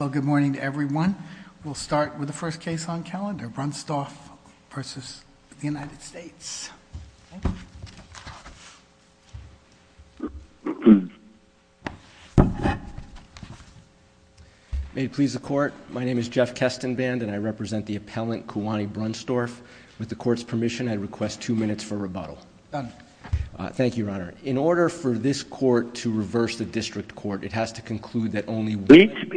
Well, good morning to everyone. We'll start with the first case on calendar, Brunstorff v. United States. May it please the court, my name is Jeff Kestenband and I represent the appellant, Kewani Brunstorff. With the court's permission, I request two minutes for rebuttal. Done. Thank you, Your Honor. In order for this court to reverse the district court, it has to conclude that only one out of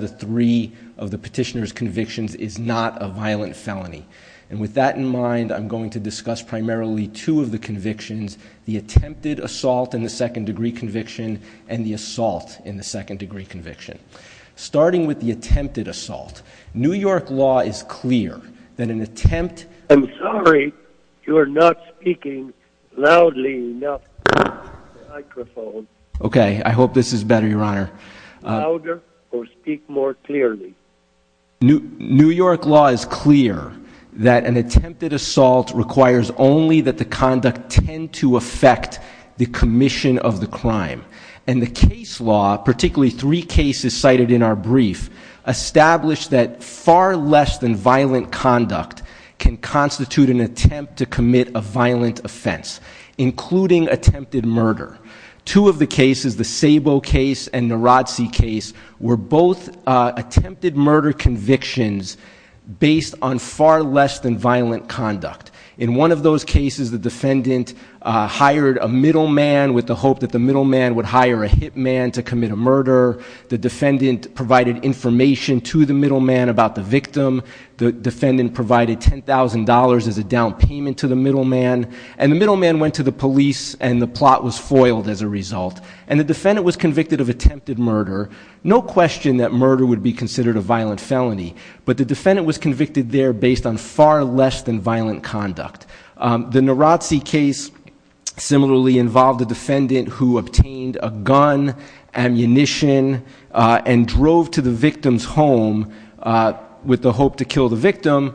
the three of the petitioner's convictions is not a violent felony. And with that in mind, I'm going to discuss primarily two of the convictions, the attempted assault in the second degree conviction and the assault in the second degree conviction. Starting with the attempted assault, New York law is clear that an attempt... You are not speaking loudly enough. Okay, I hope this is better, Your Honor. Louder or speak more clearly. New York law is clear that an attempted assault requires only that the conduct tend to affect the commission of the crime. And the case law, particularly three cases cited in our brief, establish that far less than violent conduct can constitute an attempt to commit a violent offense, including attempted murder. Two of the cases, the Sabo case and Narazzi case, were both attempted murder convictions based on far less than violent conduct. In one of those cases, the defendant hired a middleman with the hope that the middleman would hire a hitman to commit a murder. The defendant provided information to the middleman about the victim. The defendant provided $10,000 as a down payment to the middleman. And the middleman went to the police and the plot was foiled as a result. And the defendant was convicted of attempted murder. No question that murder would be considered a violent felony. But the defendant was convicted there based on far less than violent conduct. The Narazzi case similarly involved a defendant who obtained a gun, ammunition, and drove to the victim's home with the hope to kill the victim.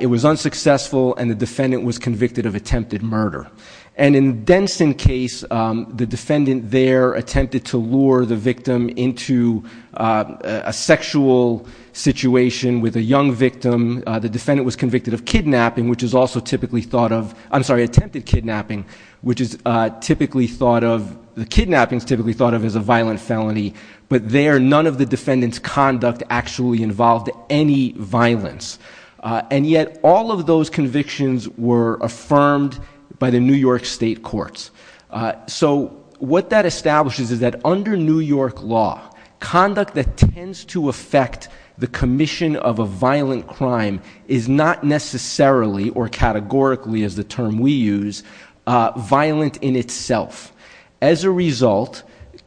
It was unsuccessful and the defendant was convicted of attempted murder. And in the Denson case, the defendant there attempted to lure the victim into a sexual situation with a young victim. The defendant was convicted of kidnapping, which is also typically thought of, I'm sorry, attempted kidnapping, which is typically thought of, the kidnapping is typically thought of as a violent felony. But there, none of the defendant's conduct actually involved any violence. And yet, all of those convictions were affirmed by the New York State Courts. So what that establishes is that under New York law, conduct that tends to affect the commission of a violent crime is not necessarily, or categorically as the term we use, violent in itself. As a result,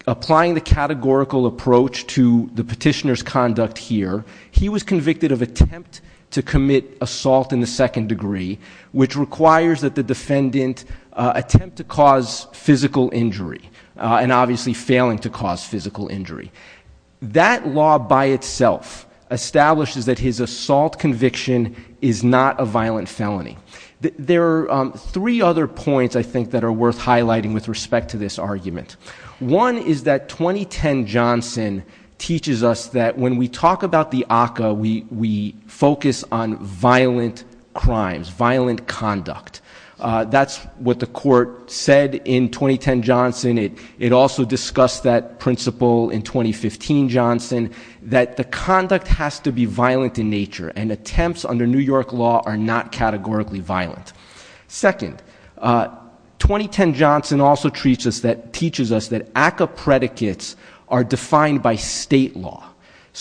applying the categorical approach to the petitioner's conduct here, he was convicted of attempt to commit assault in the second degree, which requires that the defendant attempt to cause physical injury, and obviously failing to cause physical injury. That law by itself establishes that his assault conviction is not a violent felony. There are three other points I think that are worth highlighting with respect to this argument. One is that 2010 Johnson teaches us that when we talk about the ACCA, we focus on violent crimes, violent conduct. That's what the court said in 2010 Johnson. It also discussed that principle in 2015 Johnson, that the conduct has to be violent in nature, and attempts under New York law are not categorically violent. Second, 2010 Johnson also teaches us that ACCA predicates are defined by state law.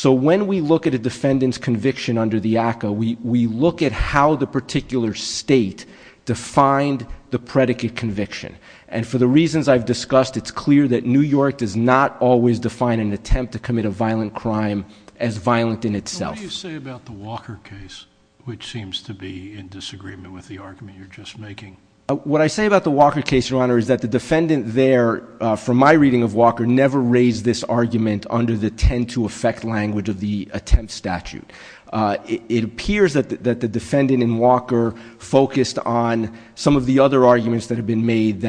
When we look at a defendant's conviction under the ACCA, we look at how the particular state defined the predicate conviction. For the reasons I've discussed, it's clear that New York does not always define an attempt to commit a violent crime as violent in itself. What do you say about the Walker case, which seems to be in disagreement with the argument you're just making? What I say about the Walker case, Your Honor, is that the defendant there, from my reading of Walker, never raised this argument under the tend to affect language of the attempt statute. It appears that the defendant in Walker focused on some of the other arguments that have been made,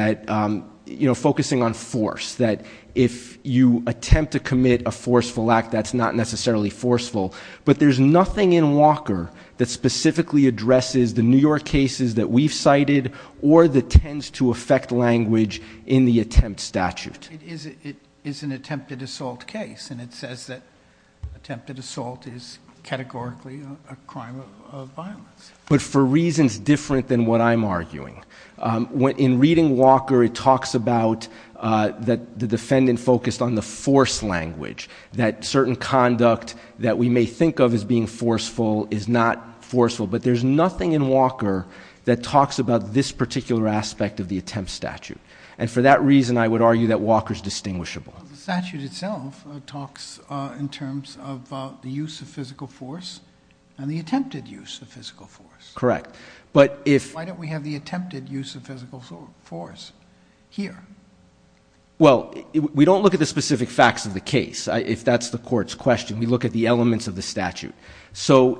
focusing on force, that if you attempt to commit a forceful act, that's not necessarily forceful. But there's nothing in Walker that specifically addresses the New York cases that we've cited, or the tends to affect language in the attempt statute. It is an attempted assault case, and it says that attempted assault is categorically a crime of violence. But for reasons different than what I'm arguing. In reading Walker, it talks about the defendant focused on the force language, that certain conduct that we may think of as being forceful is not forceful. But there's nothing in Walker that talks about this particular aspect of the attempt statute. And for that reason, I would argue that Walker's distinguishable. The statute itself talks in terms of the use of physical force and the attempted use of physical force. Correct. But if- Why don't we have the attempted use of physical force here? Well, we don't look at the specific facts of the case, if that's the court's question. We look at the elements of the statute.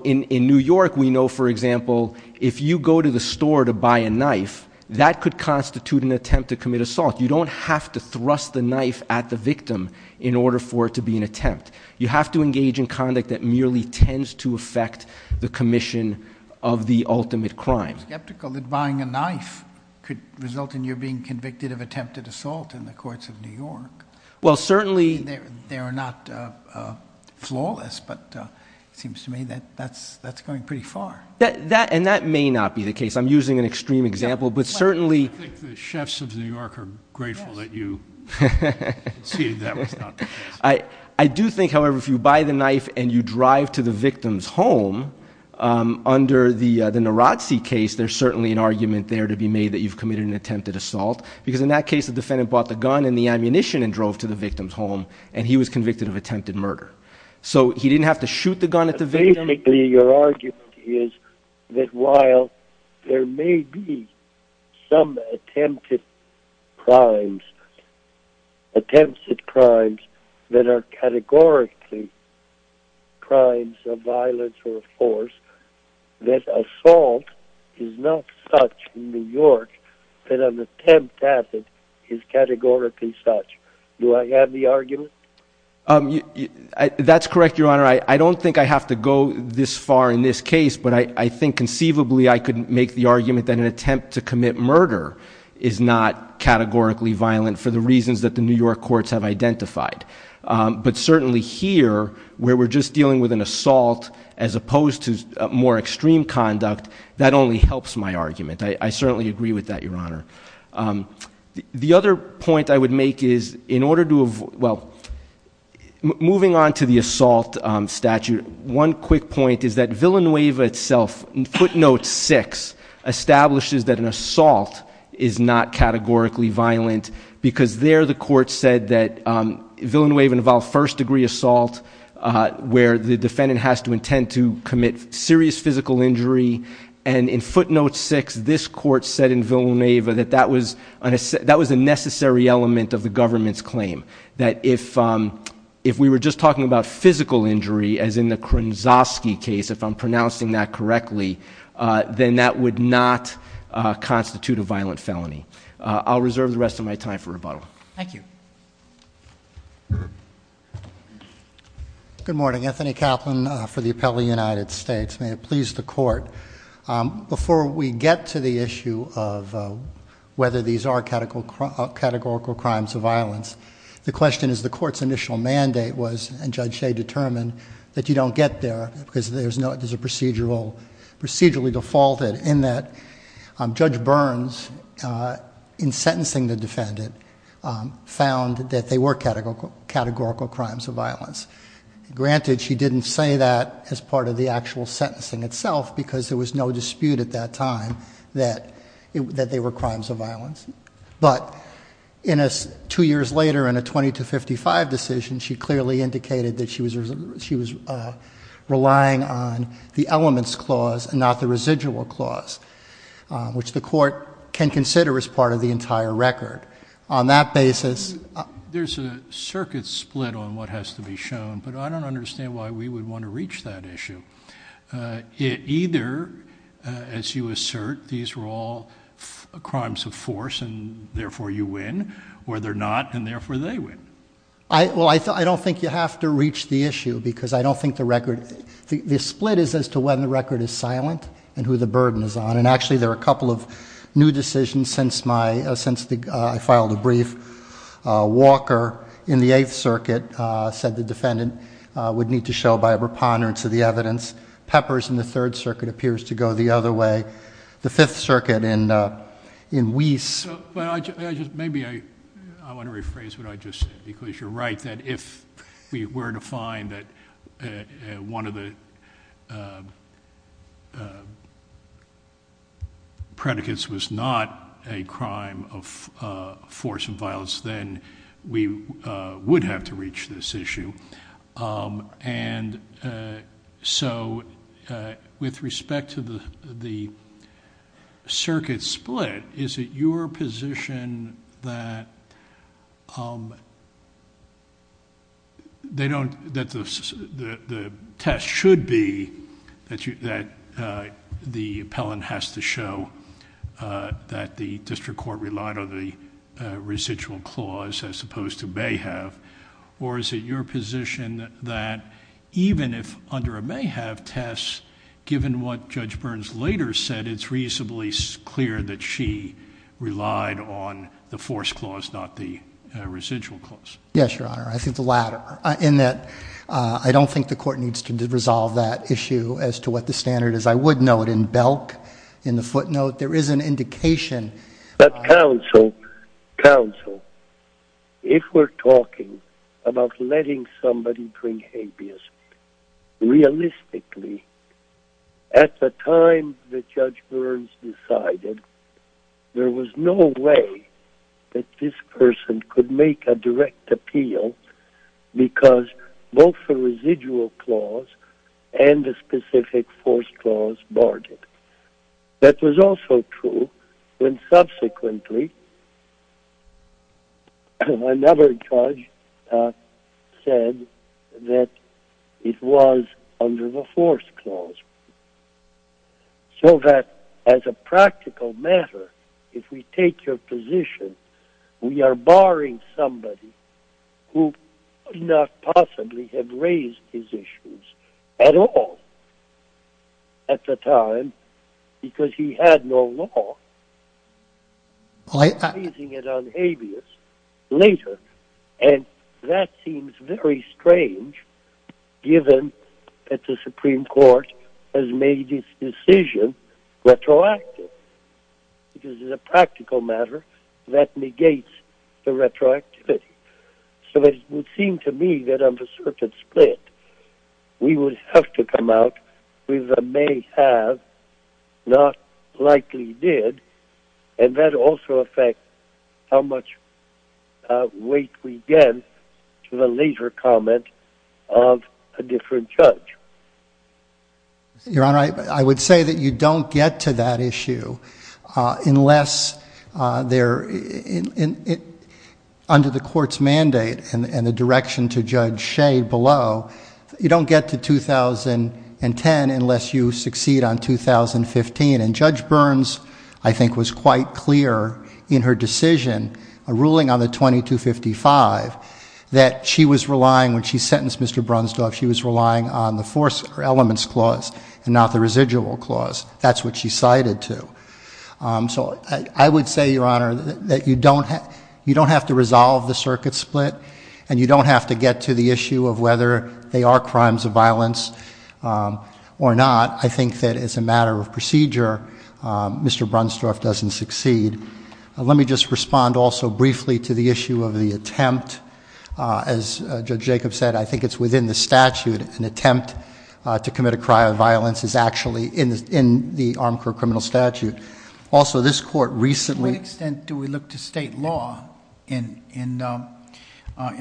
In New York, we know, for example, if you go to the store to buy a knife, that could constitute an attempt to commit assault. You don't have to thrust the knife at the victim in order for it to be an attempt. You have to engage in conduct that merely tends to affect the commission of the ultimate crime. I'm skeptical that buying a knife could result in your being convicted of attempted assault in the courts of New York. Well, certainly- They're not flawless, but it seems to me that that's going pretty far. And that may not be the case. I'm using an extreme example, but certainly- I think the chefs of New York are grateful that you see that was not the case. I do think, however, if you buy the knife and you drive to the victim's home, under the Narazzi case, there's certainly an argument there to be made that you've committed an attempted assault. Because in that case, the defendant bought the gun and the ammunition and drove to the victim's home, and he was convicted of attempted murder. So he didn't have to shoot the gun at the victim. Your argument is that while there may be some attempted crimes, attempted crimes that are categorically crimes of violence or force, that assault is not such in New York that an attempt at it is categorically such. Do I have the argument? That's correct, Your Honor. I don't think I have to go this far in this case, but I think conceivably I could make the argument that an attempt to commit murder is not categorically violent for the reasons that the New York courts have identified. But certainly here, where we're just dealing with an assault as opposed to more extreme conduct, that only helps my argument. I certainly agree with that, Your Honor. The other point I would make is in order to, well, moving on to the assault statute, one quick point is that Villanueva itself, footnote six, establishes that an assault is not categorically violent, because there the court said that Villanueva involved first-degree assault, where the defendant has to intend to commit serious physical injury. And in footnote six, this court said in Villanueva that that was a necessary element of the government's claim, that if we were just talking about physical injury, as in the Kronczowski case, if I'm pronouncing that correctly, then that would not constitute a violent felony. I'll reserve the rest of my time for rebuttal. Thank you. Good morning. Anthony Kaplan for the Appellate United States. May it please the Court. Before we get to the issue of whether these are categorical crimes of violence, the question is the Court's initial mandate was, and Judge Shea determined, that you don't get there, because there's a procedurally defaulted, in that Judge Burns, in sentencing the defendant, found that they were categorical crimes of violence. Granted, she didn't say that as part of the actual sentencing itself, because there was no dispute at that time that they were crimes of violence. But two years later, in a 20 to 55 decision, she clearly indicated that she was relying on the elements clause and not the residual clause, which the Court can consider as part of the entire record. On that basis, There's a circuit split on what has to be shown, but I don't understand why we would want to reach that issue. Either, as you assert, these were all crimes of force, and therefore you win, or they're not, and therefore they win. Well, I don't think you have to reach the issue, because I don't think the record, the split is as to when the record is silent and who the burden is on. And actually, there are a couple of new decisions since I filed a brief. Walker, in the Eighth Circuit, said the defendant would need to show by a preponderance of the evidence. Peppers, in the Third Circuit, appears to go the other way. The Fifth Circuit, in Weiss Maybe I want to rephrase what I just said, because you're right, that if we were to find that one of the predicates was not a crime of force and violence, then we would have to reach this issue. And so, with respect to the circuit split, is it your position that the test should be that the appellant has to show that the district court relied on the residual clause as opposed to may have, or is it your position that even if under a may have test, given what Judge Burns later said, it's reasonably clear that she relied on the force clause, not the residual clause? Yes, Your Honor, I think the latter. In that, I don't think the court needs to resolve that issue as to what the standard is. I would note in Belk, in the footnote, there is an indication But counsel, if we're talking about letting somebody bring habeas, realistically, at the time that Judge Burns decided, there was no way that this person could make a direct appeal because both the residual clause and the specific force clause barred it. That was also true when subsequently another judge said that it was under the force clause. So that, as a practical matter, if we take your position, we are barring somebody who could not possibly have raised these issues at all. At the time, because he had no law, placing it on habeas later, and that seems very strange, given that the Supreme Court has made its decision retroactive. It is a practical matter that negates the retroactivity. So it would seem to me that on the circuit split, we would have to come out with a may have, not likely did, and that also affects how much weight we give to the later comment of a different judge. Your Honor, I would say that you don't get to that issue unless under the court's mandate and the direction to Judge Shade below, you don't get to 2010 unless you succeed on 2015. And Judge Burns, I think, was quite clear in her decision, a ruling on the 2255, that she was relying, when she sentenced Mr. Brunsdorf, she was relying on the force elements clause and not the residual clause. That's what she cited, too. So I would say, Your Honor, that you don't have to resolve the circuit split, and you don't have to get to the issue of whether they are crimes of violence or not. I think that as a matter of procedure, Mr. Brunsdorf doesn't succeed. Let me just respond also briefly to the issue of the attempt. As Judge Jacobs said, I think it's within the statute. An attempt to commit a crime of violence is actually in the ARMCOR criminal statute. Also, this court recently... To what extent do we look to state law in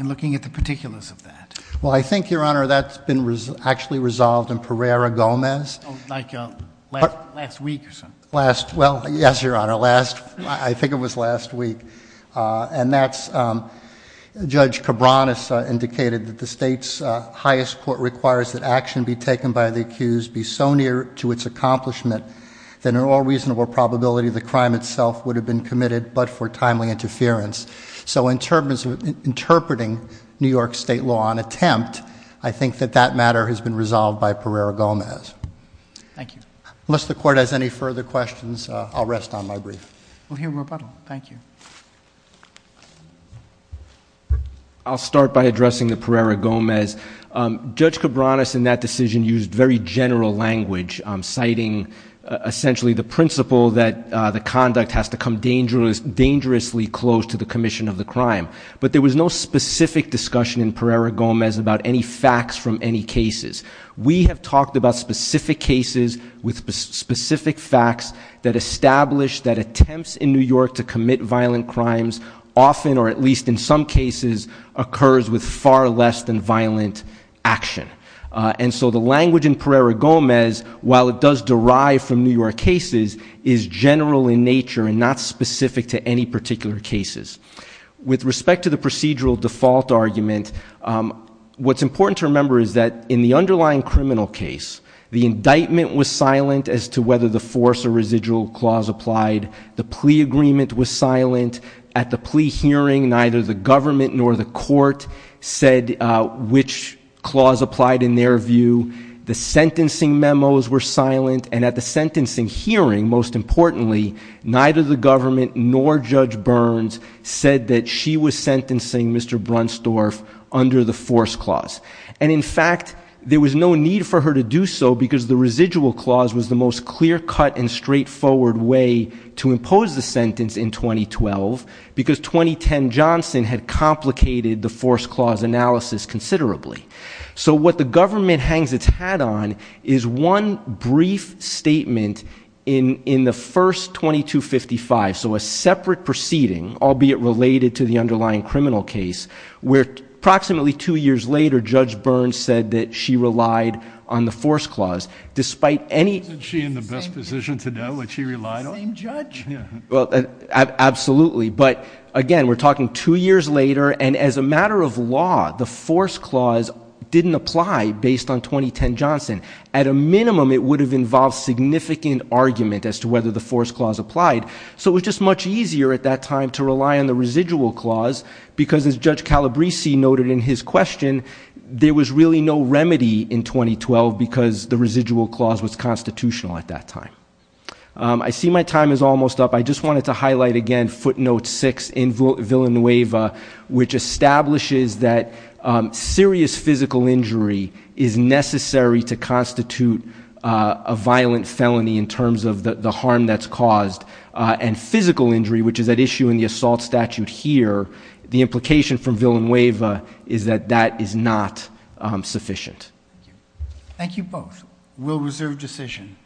looking at the particulars of that? Well, I think, Your Honor, that's been actually resolved in Pereira-Gomez. Oh, like last week or something? Well, yes, Your Honor. I think it was last week. And that's Judge Cabranes indicated that the state's highest court requires that action be taken by the accused be so near to its accomplishment that in all reasonable probability the crime itself would have been committed but for timely interference. So in terms of interpreting New York state law on attempt, I think that that matter has been resolved by Pereira-Gomez. Thank you. Unless the Court has any further questions, I'll rest on my brief. We'll hear rebuttal. Thank you. I'll start by addressing the Pereira-Gomez. Judge Cabranes in that decision used very general language, citing essentially the principle that the conduct has to come dangerously close to the commission of the crime. But there was no specific discussion in Pereira-Gomez about any facts from any cases. We have talked about specific cases with specific facts that establish that attempts in New York to commit violent crimes often, or at least in some cases, occurs with far less than violent action. And so the language in Pereira-Gomez, while it does derive from New York cases, is general in nature and not specific to any particular cases. With respect to the procedural default argument, what's important to remember is that in the underlying criminal case, the indictment was silent as to whether the force or residual clause applied. The plea agreement was silent. At the plea hearing, neither the government nor the court said which clause applied in their view. The sentencing memos were silent. And at the sentencing hearing, most importantly, neither the government nor Judge Burns said that she was sentencing Mr. Brunsdorf under the force clause. And, in fact, there was no need for her to do so because the residual clause was the most clear-cut and straightforward way to impose the sentence in 2012 because 2010 Johnson had complicated the force clause analysis considerably. So what the government hangs its hat on is one brief statement in the first 2255, so a separate proceeding, albeit related to the underlying criminal case, where approximately two years later Judge Burns said that she relied on the force clause. Despite any— Isn't she in the best position to know what she relied on? Same judge. Well, absolutely. But, again, we're talking two years later, and as a matter of law, the force clause didn't apply based on 2010 Johnson. At a minimum, it would have involved significant argument as to whether the force clause applied. So it was just much easier at that time to rely on the residual clause because, as Judge Calabresi noted in his question, there was really no remedy in 2012 because the residual clause was constitutional at that time. I see my time is almost up. I just wanted to highlight again footnote 6 in Villanueva, which establishes that serious physical injury is necessary to constitute a violent felony in terms of the harm that's caused. And physical injury, which is at issue in the assault statute here, the implication from Villanueva is that that is not sufficient. Thank you. Thank you both. We'll reserve decision.